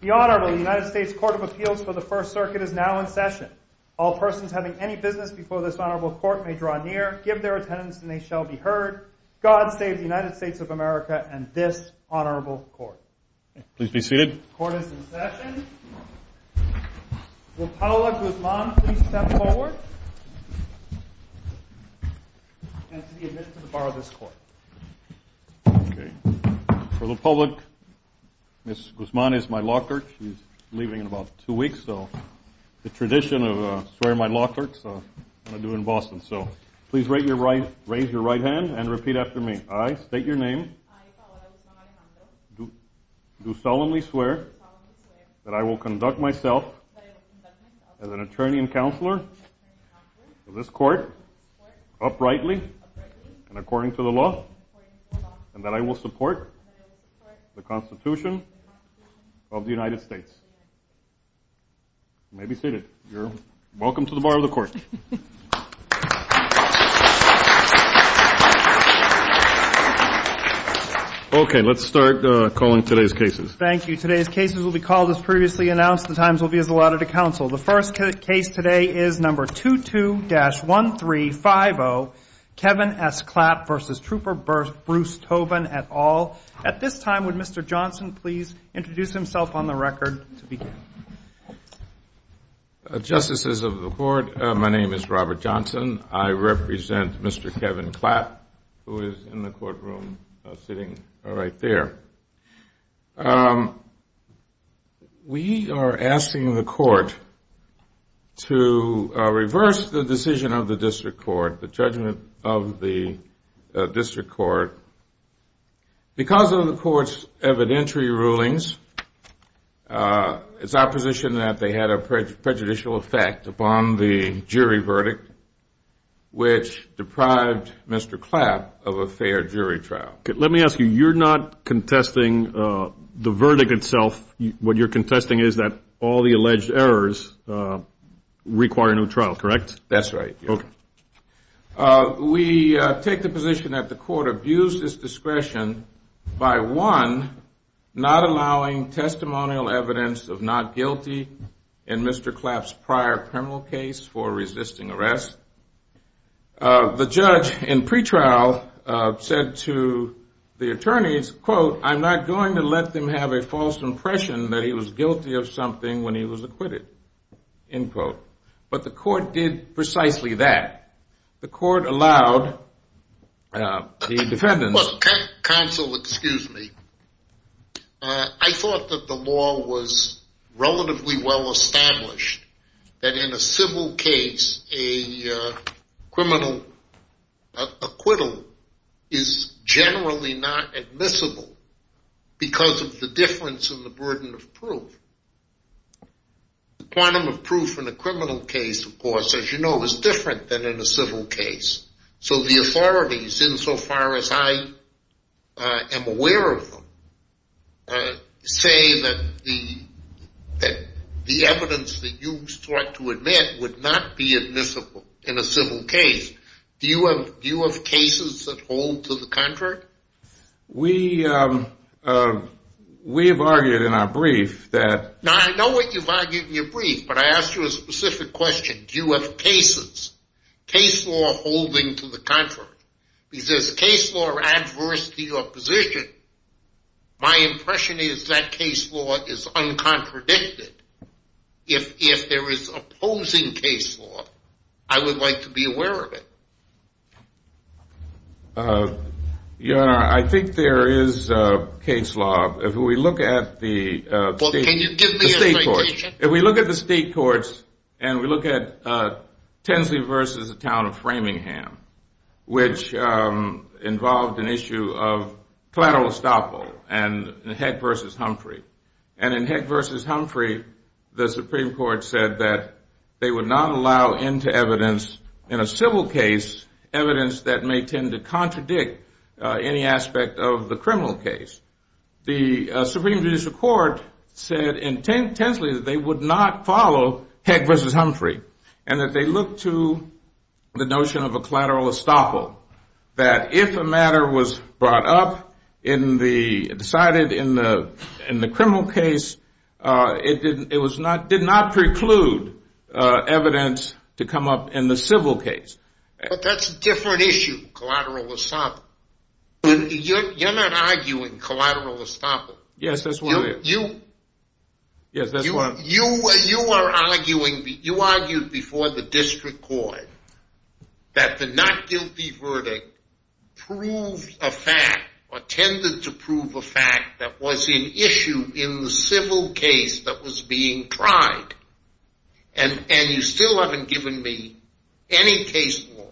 The Honorable United States Court of Appeals for the First Circuit is now in session. All persons having any business before this Honorable Court may draw near, give their attendance, and they shall be heard. God save the United States of America and this Honorable Court. The Court is in session. Will Paola Guzman please step forward and to be admitted to the Bar of this Court. For the public, Ms. Guzman is my law clerk. She's leaving in about two weeks, so the tradition of swearing my law clerk is what I do in Boston. Please raise your right hand and repeat after me. I, Paola Guzman Alejandro, do solemnly swear that I will conduct myself as an attorney and counselor for this Court, uprightly and according to the law, and that I will support the Constitution of the United States. You may be seated. You're welcome to the Bar of the Court. Okay, let's start calling today's cases. Thank you. Today's cases will be called as previously announced. The times will be as allotted to counsel. The first case today is number 22-1350, Kevin S. Klatt v. Trooper Bruce Tobin, et al. At this time, would Mr. Johnson please introduce himself on the record to begin. Justices of the Court, my name is Robert Johnson. I represent Mr. Kevin Klatt, who is in the courtroom sitting right there. We are asking the Court to reverse the decision of the District Court, the judgment of the District Court, because of the Court's evidentiary rulings, it's our position that they had a prejudicial effect upon the jury verdict, which deprived Mr. Klatt of a fair jury trial. Let me ask you, you're not contesting the verdict itself. What you're contesting is that all the alleged errors require a new trial, correct? That's right. We take the position that the Court abused its discretion by, one, not allowing testimonial evidence of not guilty in Mr. Klatt's prior criminal case for resisting arrest. The judge in pretrial said to the attorneys, quote, I'm not going to let them have a false impression that he was guilty of something when he was acquitted, end quote. But the Court did precisely that. The Court allowed the defendants… acquittal is generally not admissible because of the difference in the burden of proof. The quantum of proof in a criminal case, of course, as you know, is different than in a civil case. So the authorities, insofar as I am aware of them, say that the evidence that you sought to admit would not be admissible in a civil case. Do you have cases that hold to the contrary? We have argued in our brief that… Because there's case law adversity or position. My impression is that case law is uncontradicted. If there is opposing case law, I would like to be aware of it. Your Honor, I think there is case law. If we look at the… Can you give me a citation? If we look at the state courts and we look at Tinsley v. the town of Framingham, which involved an issue of collateral estoppel and Heck v. Humphrey, and in Heck v. Humphrey, the Supreme Court said that they would not allow into evidence in a civil case evidence that may tend to contradict any aspect of the criminal case. The Supreme Judicial Court said in Tinsley that they would not follow Heck v. Humphrey and that they look to the notion of a collateral estoppel, that if a matter was brought up in the… decided in the criminal case, it did not preclude evidence to come up in the civil case. But that's a different issue, collateral estoppel. You're not arguing collateral estoppel. Yes, that's what I am. You… Yes, that's what I am. You are arguing… You argued before the district court that the not guilty verdict proved a fact or tended to prove a fact that was an issue in the civil case that was being tried. And you still haven't given me any case law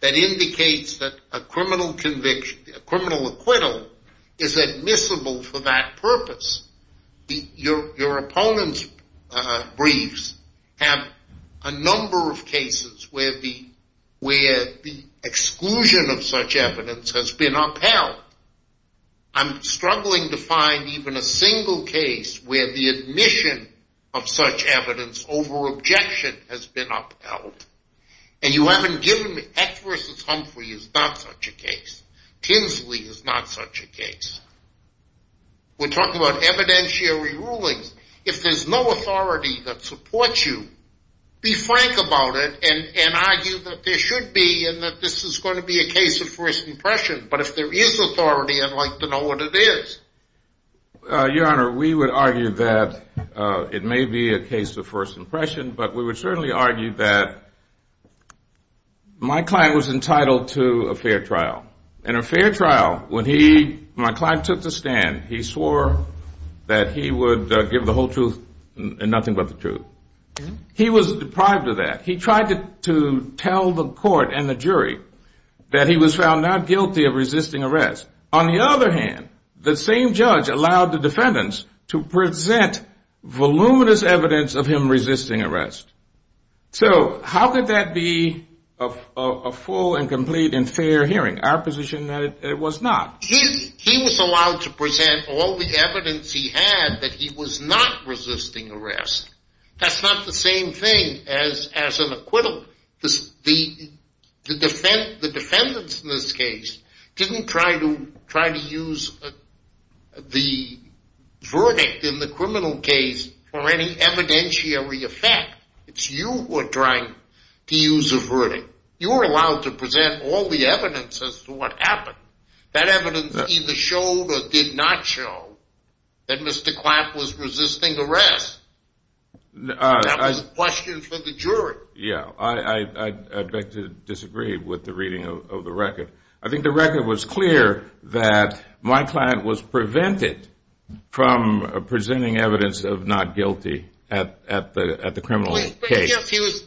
that indicates that a criminal conviction, a criminal acquittal is admissible for that purpose. Your opponent's briefs have a number of cases where the exclusion of such evidence has been upheld. I'm struggling to find even a single case where the admission of such evidence over objection has been upheld. And you haven't given me… Heck v. Humphrey is not such a case. Tinsley is not such a case. We're talking about evidentiary rulings. If there's no authority that supports you, be frank about it and argue that there should be and that this is going to be a case of first impression. But if there is authority, I'd like to know what it is. Your Honor, we would argue that it may be a case of first impression, but we would certainly argue that my client was entitled to a fair trial. In a fair trial, when he – my client took the stand, he swore that he would give the whole truth and nothing but the truth. He was deprived of that. He tried to tell the court and the jury that he was found not guilty of resisting arrest. On the other hand, the same judge allowed the defendants to present voluminous evidence of him resisting arrest. So how could that be a full and complete and fair hearing? Our position is that it was not. He was allowed to present all the evidence he had that he was not resisting arrest. That's not the same thing as an acquittal. The defendants in this case didn't try to use the verdict in the criminal case for any evidentiary effect. It's you who are trying to use a verdict. You are allowed to present all the evidence as to what happened. That evidence either showed or did not show that Mr. Klatt was resisting arrest. That was a question for the jury. Yeah, I'd like to disagree with the reading of the record. I think the record was clear that my client was prevented from presenting evidence of not guilty at the criminal case. Yes, he was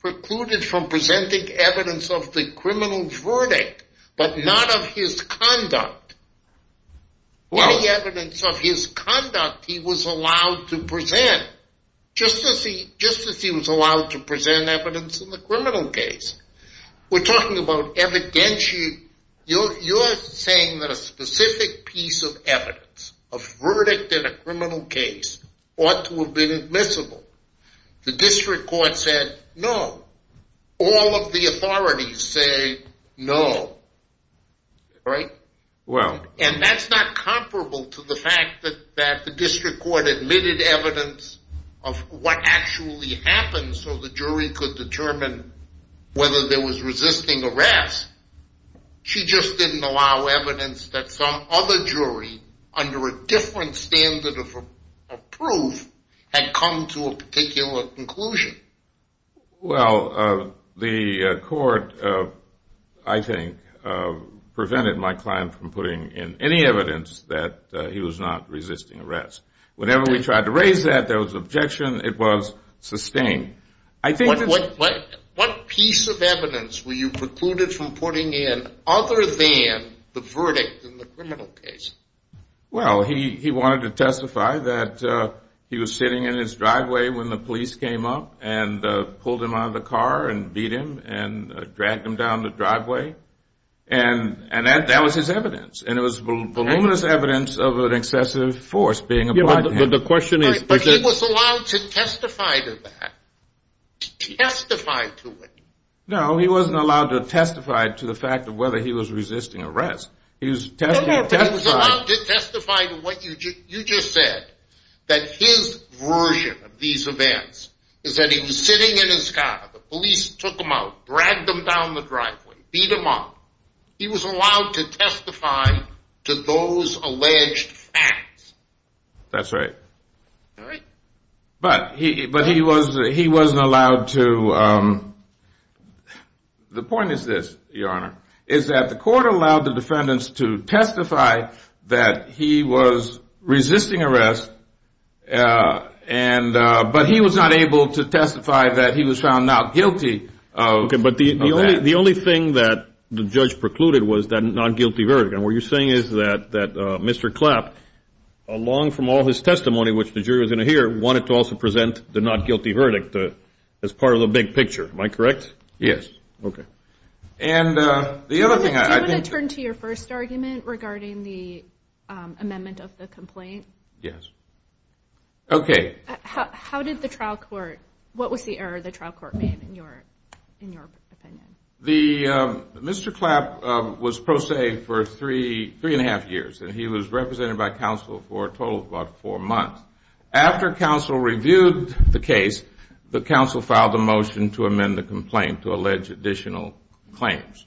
precluded from presenting evidence of the criminal verdict, but not of his conduct. Any evidence of his conduct he was allowed to present, just as he was allowed to present evidence in the criminal case. We're talking about evidentiary. You're saying that a specific piece of evidence, a verdict in a criminal case, ought to have been admissible. The district court said no. All of the authorities say no. Right? And that's not comparable to the fact that the district court admitted evidence of what actually happened so the jury could determine whether there was resisting arrest. She just didn't allow evidence that some other jury under a different standard of proof had come to a particular conclusion. Well, the court, I think, prevented my client from putting in any evidence that he was not resisting arrest. Whenever we tried to raise that, there was objection. It was sustained. What piece of evidence were you precluded from putting in other than the verdict in the criminal case? Well, he wanted to testify that he was sitting in his driveway when the police came up and pulled him out of the car and beat him and dragged him down the driveway. And that was his evidence. And it was voluminous evidence of an excessive force being applied to him. But he was allowed to testify to that. Testify to it. No, he wasn't allowed to testify to the fact of whether he was resisting arrest. He was allowed to testify to what you just said, that his version of these events is that he was sitting in his car, the police took him out, dragged him down the driveway, beat him up. He was allowed to testify to those alleged facts. That's right. All right. But he wasn't allowed to – the point is this, Your Honor, is that the court allowed the defendants to testify that he was resisting arrest, but he was not able to testify that he was found not guilty of that. The only thing that the judge precluded was that not guilty verdict. And what you're saying is that Mr. Clapp, along from all his testimony, which the jury was going to hear, wanted to also present the not guilty verdict as part of the big picture. Am I correct? Yes. Okay. And the other thing I think – Do you want to turn to your first argument regarding the amendment of the complaint? Yes. Okay. How did the trial court – what was the error the trial court made in your opinion? Mr. Clapp was pro se for three and a half years, and he was represented by counsel for a total of about four months. After counsel reviewed the case, the counsel filed a motion to amend the complaint to allege additional claims,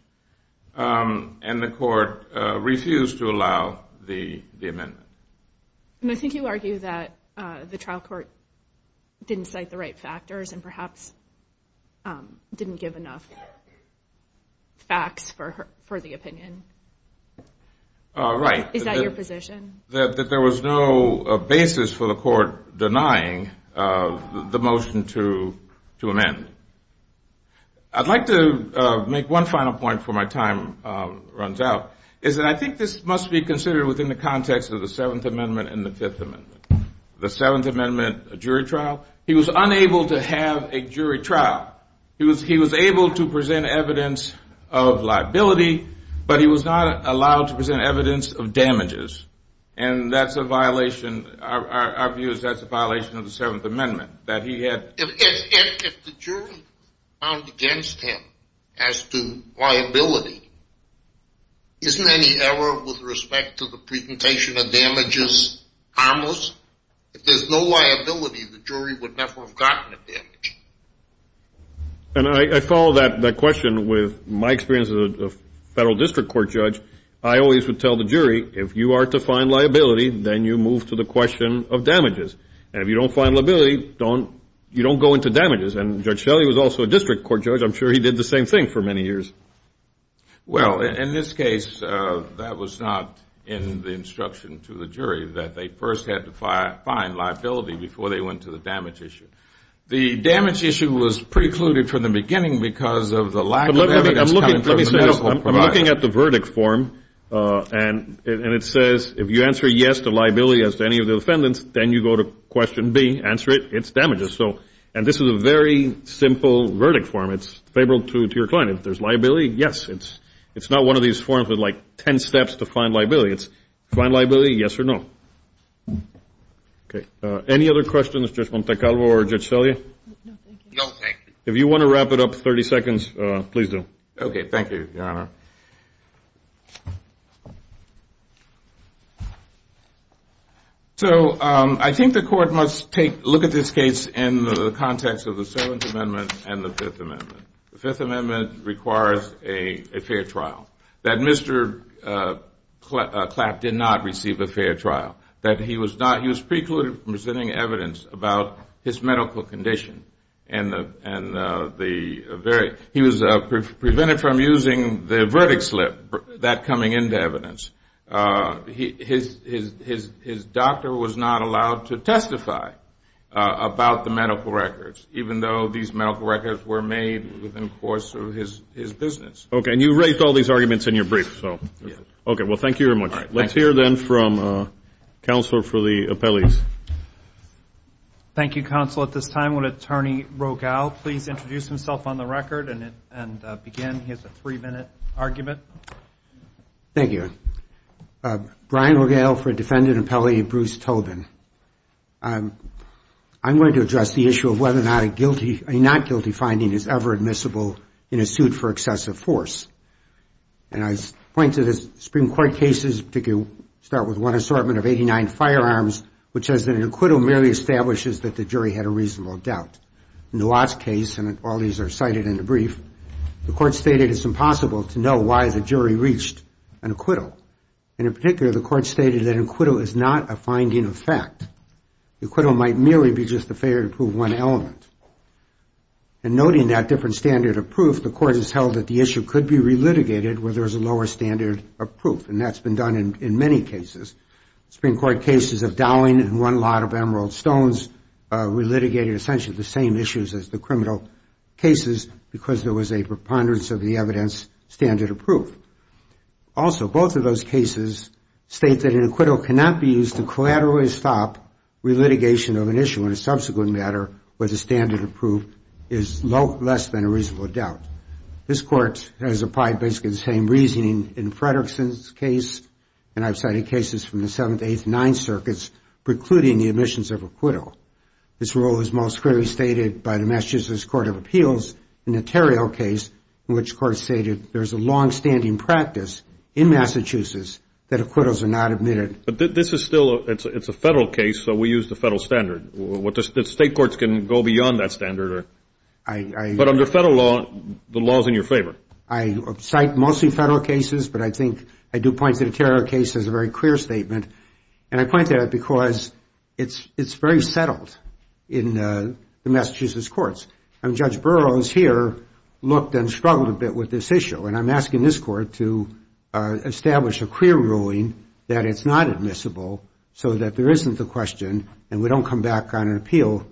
and the court refused to allow the amendment. And I think you argue that the trial court didn't cite the right factors and perhaps didn't give enough facts for the opinion. Right. Is that your position? That there was no basis for the court denying the motion to amend. I'd like to make one final point before my time runs out, is that I think this must be considered within the context of the Seventh Amendment and the Fifth Amendment. The Seventh Amendment jury trial, he was unable to have a jury trial. He was able to present evidence of liability, but he was not allowed to present evidence of damages, and that's a violation – our view is that's a violation of the Seventh Amendment, that he had – if the jury found against him as to liability, isn't any error with respect to the presentation of damages harmless? If there's no liability, the jury would never have gotten a damage. And I follow that question with my experience as a federal district court judge. I always would tell the jury, if you are to find liability, then you move to the question of damages. And if you don't find liability, you don't go into damages. And Judge Shelley was also a district court judge. I'm sure he did the same thing for many years. Well, in this case, that was not in the instruction to the jury that they first had to find liability before they went to the damage issue. The damage issue was precluded from the beginning because of the lack of evidence coming from the medical provider. I'm looking at the verdict form, and it says if you answer yes to liability as to any of the defendants, then you go to question B, answer it, it's damages. So – and this is a very simple verdict form. It's favorable to your client. If there's liability, yes. It's not one of these forms with, like, 10 steps to find liability. It's find liability, yes or no. Okay. Any other questions, Judge Montecalvo or Judge Shelley? No, thank you. If you want to wrap it up, 30 seconds, please do. Okay, thank you, Your Honor. So I think the court must take – look at this case in the context of the Seventh Amendment and the Fifth Amendment. The Fifth Amendment requires a fair trial. That Mr. Clapp did not receive a fair trial. That he was not – he was precluded from presenting evidence about his medical condition. And the very – he was prevented from using the verdict slip, that coming into evidence. His doctor was not allowed to testify about the medical records, even though these medical records were made within course of his business. Okay. And you raised all these arguments in your brief, so. Yes. Okay. Well, thank you very much. All right. Thank you, counsel. At this time, would Attorney Rogel please introduce himself on the record and begin? He has a three-minute argument. Thank you. Brian Rogel for Defendant Appellee Bruce Tobin. I'm going to address the issue of whether or not a guilty – a not guilty finding is ever admissible in a suit for excessive force. And I point to the Supreme Court cases to start with one assortment of 89 firearms, which says that an acquittal merely establishes that the jury had a reasonable doubt. In the Watts case, and all these are cited in the brief, the court stated it's impossible to know why the jury reached an acquittal. And in particular, the court stated that an acquittal is not a finding of fact. An acquittal might merely be just a failure to prove one element. And noting that different standard of proof, the court has held that the issue could be relitigated where there is a lower standard of proof, and that's been done in many cases. Supreme Court cases of Dowling and one lot of Emerald Stones relitigated essentially the same issues as the criminal cases because there was a preponderance of the evidence standard of proof. Also, both of those cases state that an acquittal cannot be used to collaterally stop relitigation of an issue in a subsequent matter where the standard of proof is less than a reasonable doubt. This court has applied basically the same reasoning in Fredrickson's case, and I've cited cases from the 7th, 8th, and 9th circuits precluding the admissions of acquittal. This rule is most clearly stated by the Massachusetts Court of Appeals in the Terrio case, in which the court stated there's a longstanding practice in Massachusetts that acquittals are not admitted. But this is still a federal case, so we use the federal standard. State courts can go beyond that standard. But under federal law, the law is in your favor. I cite mostly federal cases, but I think I do point to the Terrio case as a very clear statement, and I point to that because it's very settled in the Massachusetts courts. Judge Burroughs here looked and struggled a bit with this issue, and I'm asking this court to establish a clear ruling that it's not admissible so that there isn't the question and we don't come back on an appeal.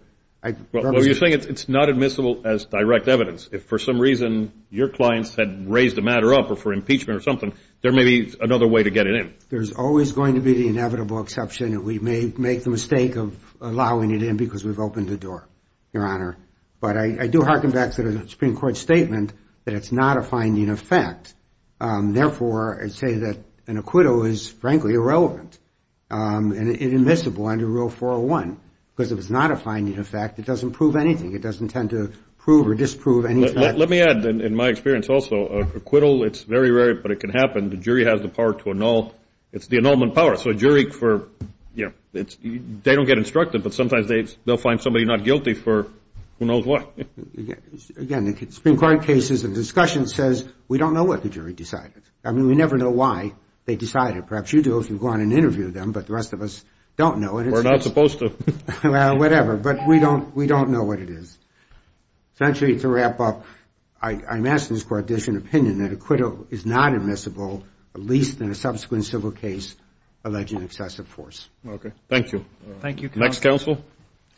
Well, you're saying it's not admissible as direct evidence. If for some reason your clients had raised the matter up or for impeachment or something, there may be another way to get it in. There's always going to be the inevitable exception that we may make the mistake of allowing it in because we've opened the door, Your Honor. But I do hearken back to the Supreme Court statement that it's not a finding of fact. Therefore, I say that an acquittal is, frankly, irrelevant and inadmissible under Rule 401 because if it's not a finding of fact, it doesn't prove anything. It doesn't tend to prove or disprove anything. Let me add, in my experience also, acquittal, it's very rare, but it can happen. The jury has the power to annul. It's the annulment power. They don't get instructed, but sometimes they'll find somebody not guilty for who knows what. Again, the Supreme Court cases and discussions says we don't know what the jury decided. I mean, we never know why they decided. Perhaps you do if you go on and interview them, but the rest of us don't know. We're not supposed to. Well, whatever, but we don't know what it is. Essentially, to wrap up, I'm asking this Court to issue an opinion that acquittal is not admissible, at least in a subsequent civil case alleging excessive force. Okay. Thank you. Thank you, Counsel. Next, Counsel.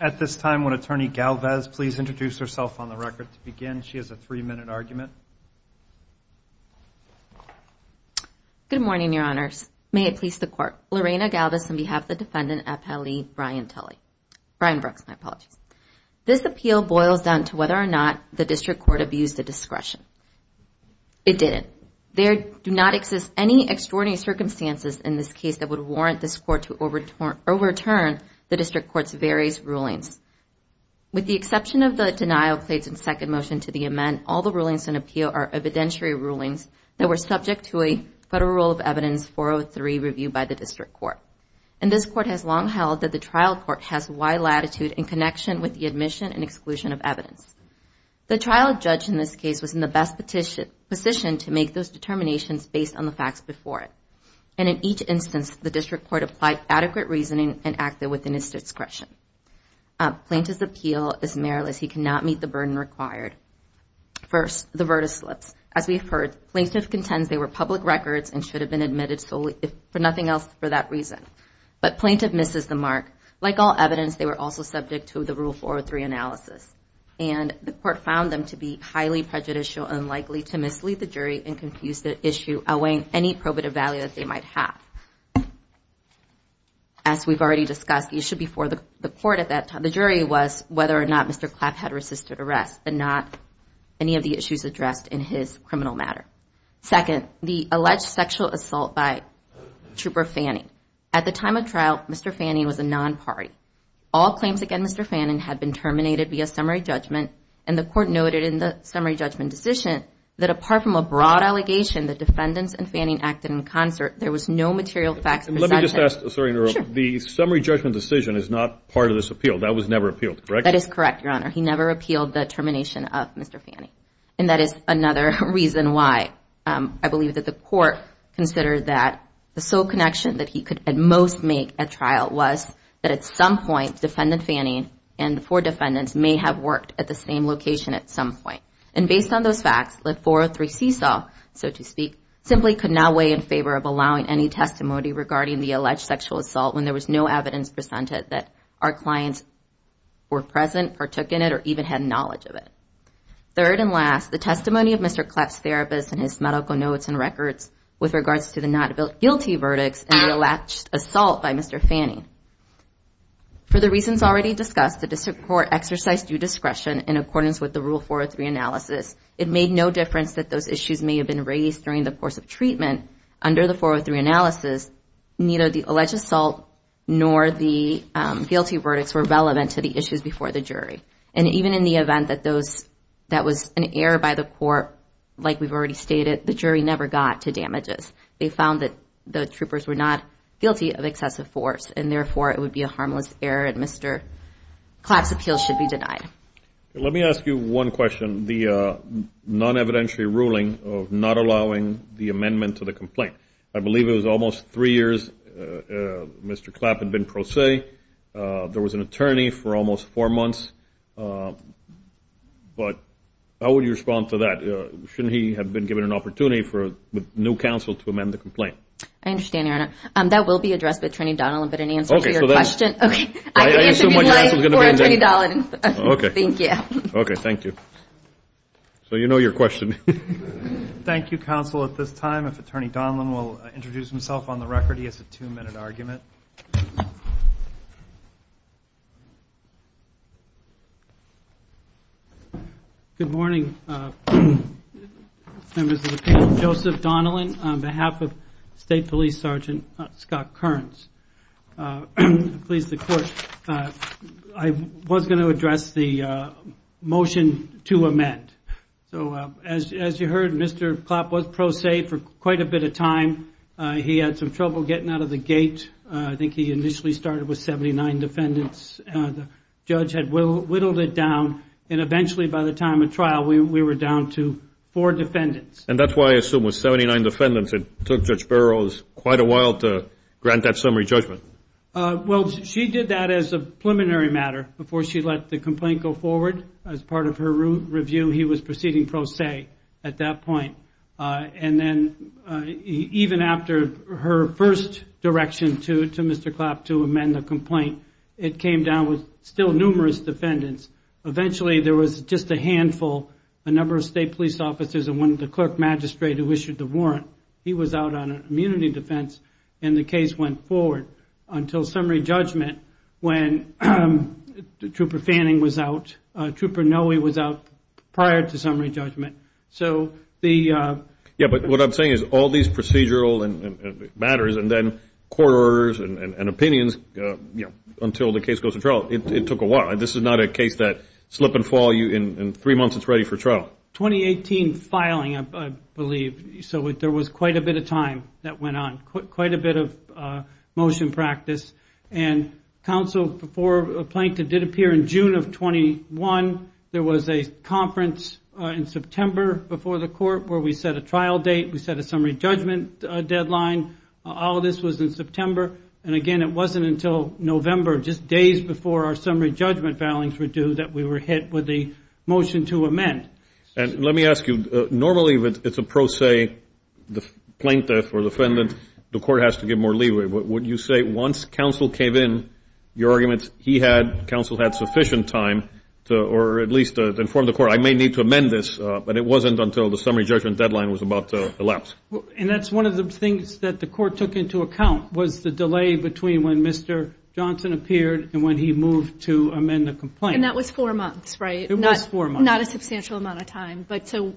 At this time, would Attorney Galvez please introduce herself on the record to begin? She has a three-minute argument. Good morning, Your Honors. May it please the Court. Lorena Galvez on behalf of the defendant, FLE Brian Brooks. This appeal boils down to whether or not the district court abused the discretion. It didn't. There do not exist any extraordinary circumstances in this case that would warrant this Court to overturn the district court's various rulings. With the exception of the denial of plates and second motion to the amend, all the rulings in appeal are evidentiary rulings that were subject to a Federal Rule of Evidence 403 reviewed by the district court. And this court has long held that the trial court has wide latitude in connection with the admission and exclusion of evidence. The trial judge in this case was in the best position to make those determinations based on the facts before it. And in each instance, the district court applied adequate reasoning and acted within its discretion. Plaintiff's appeal is meriless. He cannot meet the burden required. First, the verdict slips. As we've heard, plaintiff contends they were public records and should have been admitted solely, if nothing else, for that reason. But plaintiff misses the mark. Like all evidence, they were also subject to the Rule 403 analysis. And the court found them to be highly prejudicial and likely to mislead the jury and confuse the issue outweighing any probative value that they might have. As we've already discussed, the issue before the court at that time, the jury, was whether or not Mr. Clapp had resisted arrest and not any of the issues addressed in his criminal matter. Second, the alleged sexual assault by Trooper Fanning. At the time of trial, Mr. Fanning was a non-party. All claims against Mr. Fanning had been terminated via summary judgment, and the court noted in the summary judgment decision that apart from a broad allegation that defendants and Fanning acted in concert, there was no material facts presented. Let me just ask. The summary judgment decision is not part of this appeal. That was never appealed, correct? That is correct, Your Honor. He never appealed the termination of Mr. Fanning. And that is another reason why I believe that the court considered that the sole connection that he could at most make at trial was that at some point, defendant Fanning and the four defendants may have worked at the same location at some point. And based on those facts, the 403C saw, so to speak, simply could not weigh in favor of allowing any testimony regarding the alleged sexual assault when there was no evidence presented that our clients were present or took in it or even had knowledge of it. Third and last, the testimony of Mr. Clapp's therapist and his medical notes and records with regards to the not guilty verdicts and the alleged assault by Mr. Fanning. For the reasons already discussed, the district court exercised due discretion in accordance with the Rule 403 analysis. It made no difference that those issues may have been raised during the course of treatment. Under the 403 analysis, neither the alleged assault nor the guilty verdicts were relevant to the issues before the jury. And even in the event that that was an error by the court, like we've already stated, the jury never got to damages. They found that the troopers were not guilty of excessive force, and therefore it would be a harmless error and Mr. Clapp's appeal should be denied. Let me ask you one question. The non-evidentiary ruling of not allowing the amendment to the complaint, I believe it was almost three years Mr. Clapp had been pro se. There was an attorney for almost four months. But how would you respond to that? Shouldn't he have been given an opportunity with new counsel to amend the complaint? I understand, Your Honor. That will be addressed by Attorney Donilon, but in answer to your question. Okay. I can answer your question for Attorney Donilon. Okay. Thank you. Okay. Thank you. So you know your question. Thank you, counsel. At this time, if Attorney Donilon will introduce himself on the record. He has a two-minute argument. Good morning, members of the people. Joseph Donilon on behalf of State Police Sergeant Scott Kearns. Please, the Court. I was going to address the motion to amend. So as you heard, Mr. Clapp was pro se for quite a bit of time. He had some trouble getting out of the gate. I think he initially started with 79 defendants. The judge had whittled it down, and eventually by the time of trial, we were down to four defendants. And that's why I assume with 79 defendants, it took Judge Burroughs quite a while to grant that summary judgment. Well, she did that as a preliminary matter before she let the complaint go forward. As part of her review, he was proceeding pro se at that point. And then even after her first direction to Mr. Clapp to amend the complaint, it came down with still numerous defendants. Eventually, there was just a handful, a number of state police officers and one of the clerk magistrate who issued the warrant. He was out on an immunity defense, and the case went forward until summary judgment when Trooper Fanning was out. Trooper Noe was out prior to summary judgment. Yeah, but what I'm saying is all these procedural matters and then court orders and opinions until the case goes to trial, it took a while. This is not a case that slip and fall. In three months, it's ready for trial. 2018 filing, I believe. So there was quite a bit of time that went on, quite a bit of motion practice. And counsel for Plankton did appear in June of 21. There was a conference in September before the court where we set a trial date. We set a summary judgment deadline. All of this was in September. And, again, it wasn't until November, just days before our summary judgment filings were due, that we were hit with the motion to amend. And let me ask you, normally it's a pro se, the plaintiff or defendant, the court has to give more leeway. Would you say once counsel came in, your arguments, he had, counsel had sufficient time to, or at least to inform the court, I may need to amend this, but it wasn't until the summary judgment deadline was about to elapse. And that's one of the things that the court took into account was the delay between when Mr. Johnson appeared and when he moved to amend the complaint. And that was four months, right? It was four months. Not a substantial amount of time. So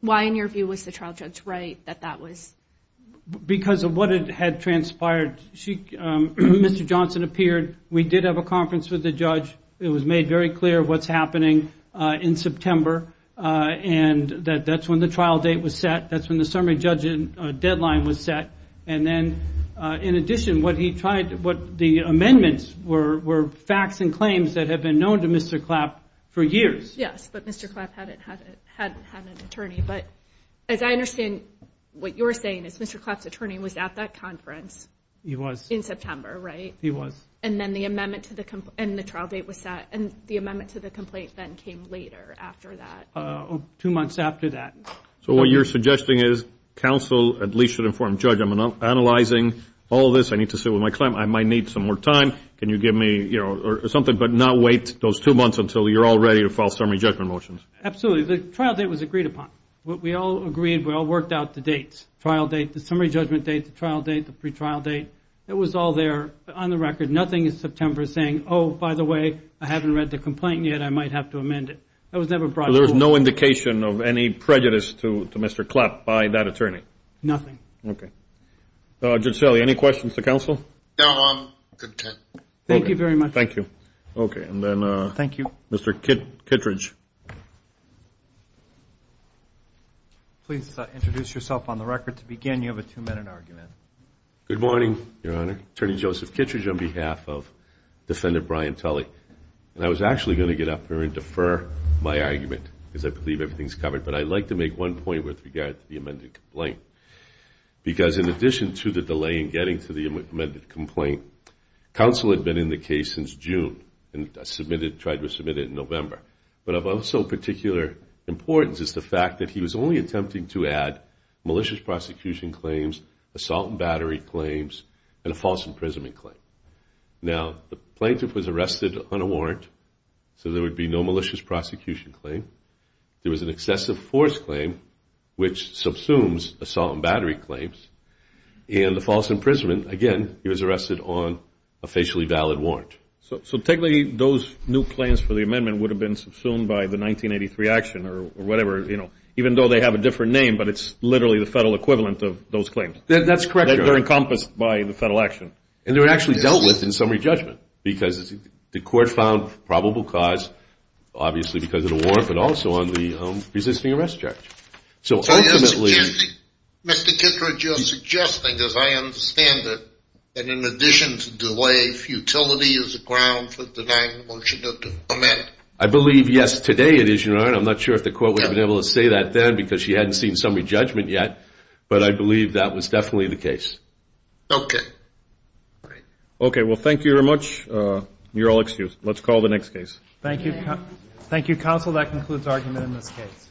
why, in your view, was the trial judge right that that was? Because of what had transpired. Mr. Johnson appeared. We did have a conference with the judge. It was made very clear what's happening in September. And that's when the trial date was set. That's when the summary judgment deadline was set. And then, in addition, what he tried, what the amendments were, were facts and claims that had been known to Mr. Clapp for years. Yes, but Mr. Clapp hadn't had an attorney. But as I understand, what you're saying is Mr. Clapp's attorney was at that conference. He was. In September, right? He was. And then the amendment to the complaint, and the trial date was set. And the amendment to the complaint then came later after that. Two months after that. So what you're suggesting is counsel at least should inform the judge, I'm analyzing all this, I need to sit with my client, I might need some more time, can you give me something, but not wait those two months until you're all ready to file summary judgment motions. Absolutely. The trial date was agreed upon. We all agreed, we all worked out the dates, trial date, the summary judgment date, the trial date, the pre-trial date. It was all there on the record. Nothing in September saying, oh, by the way, I haven't read the complaint yet, I might have to amend it. That was never brought forward. So there was no indication of any prejudice to Mr. Clapp by that attorney? Nothing. Okay. Judge Selle, any questions to counsel? No, I'm content. Thank you very much. Thank you. Okay, and then Mr. Kittredge. Please introduce yourself on the record. To begin, you have a two-minute argument. Good morning, Your Honor. Attorney Joseph Kittredge on behalf of Defendant Brian Tully. And I was actually going to get up here and defer my argument because I believe everything is covered, but I'd like to make one point with regard to the amended complaint. Because in addition to the delay in getting to the amended complaint, counsel had been in the case since June and tried to submit it in November. But of also particular importance is the fact that he was only attempting to add malicious prosecution claims, assault and battery claims, and a false imprisonment claim. Now, the plaintiff was arrested on a warrant, so there would be no malicious prosecution claim. There was an excessive force claim, which subsumes assault and battery claims. And the false imprisonment, again, he was arrested on a facially valid warrant. So technically those new claims for the amendment would have been subsumed by the 1983 action or whatever, even though they have a different name, but it's literally the federal equivalent of those claims. That's correct, Your Honor. They're encompassed by the federal action. And they were actually dealt with in summary judgment because the court found probable cause, obviously because of the warrant, but also on the resisting arrest charge. Mr. Kittredge, you're suggesting, as I understand it, that in addition to delay, futility is a ground for denying the motion to amend. I believe, yes, today it is, Your Honor. I'm not sure if the court would have been able to say that then because she hadn't seen summary judgment yet. But I believe that was definitely the case. Okay. Okay, well, thank you very much. You're all excused. Let's call the next case. Thank you. Thank you, counsel. And so that concludes argument in this case.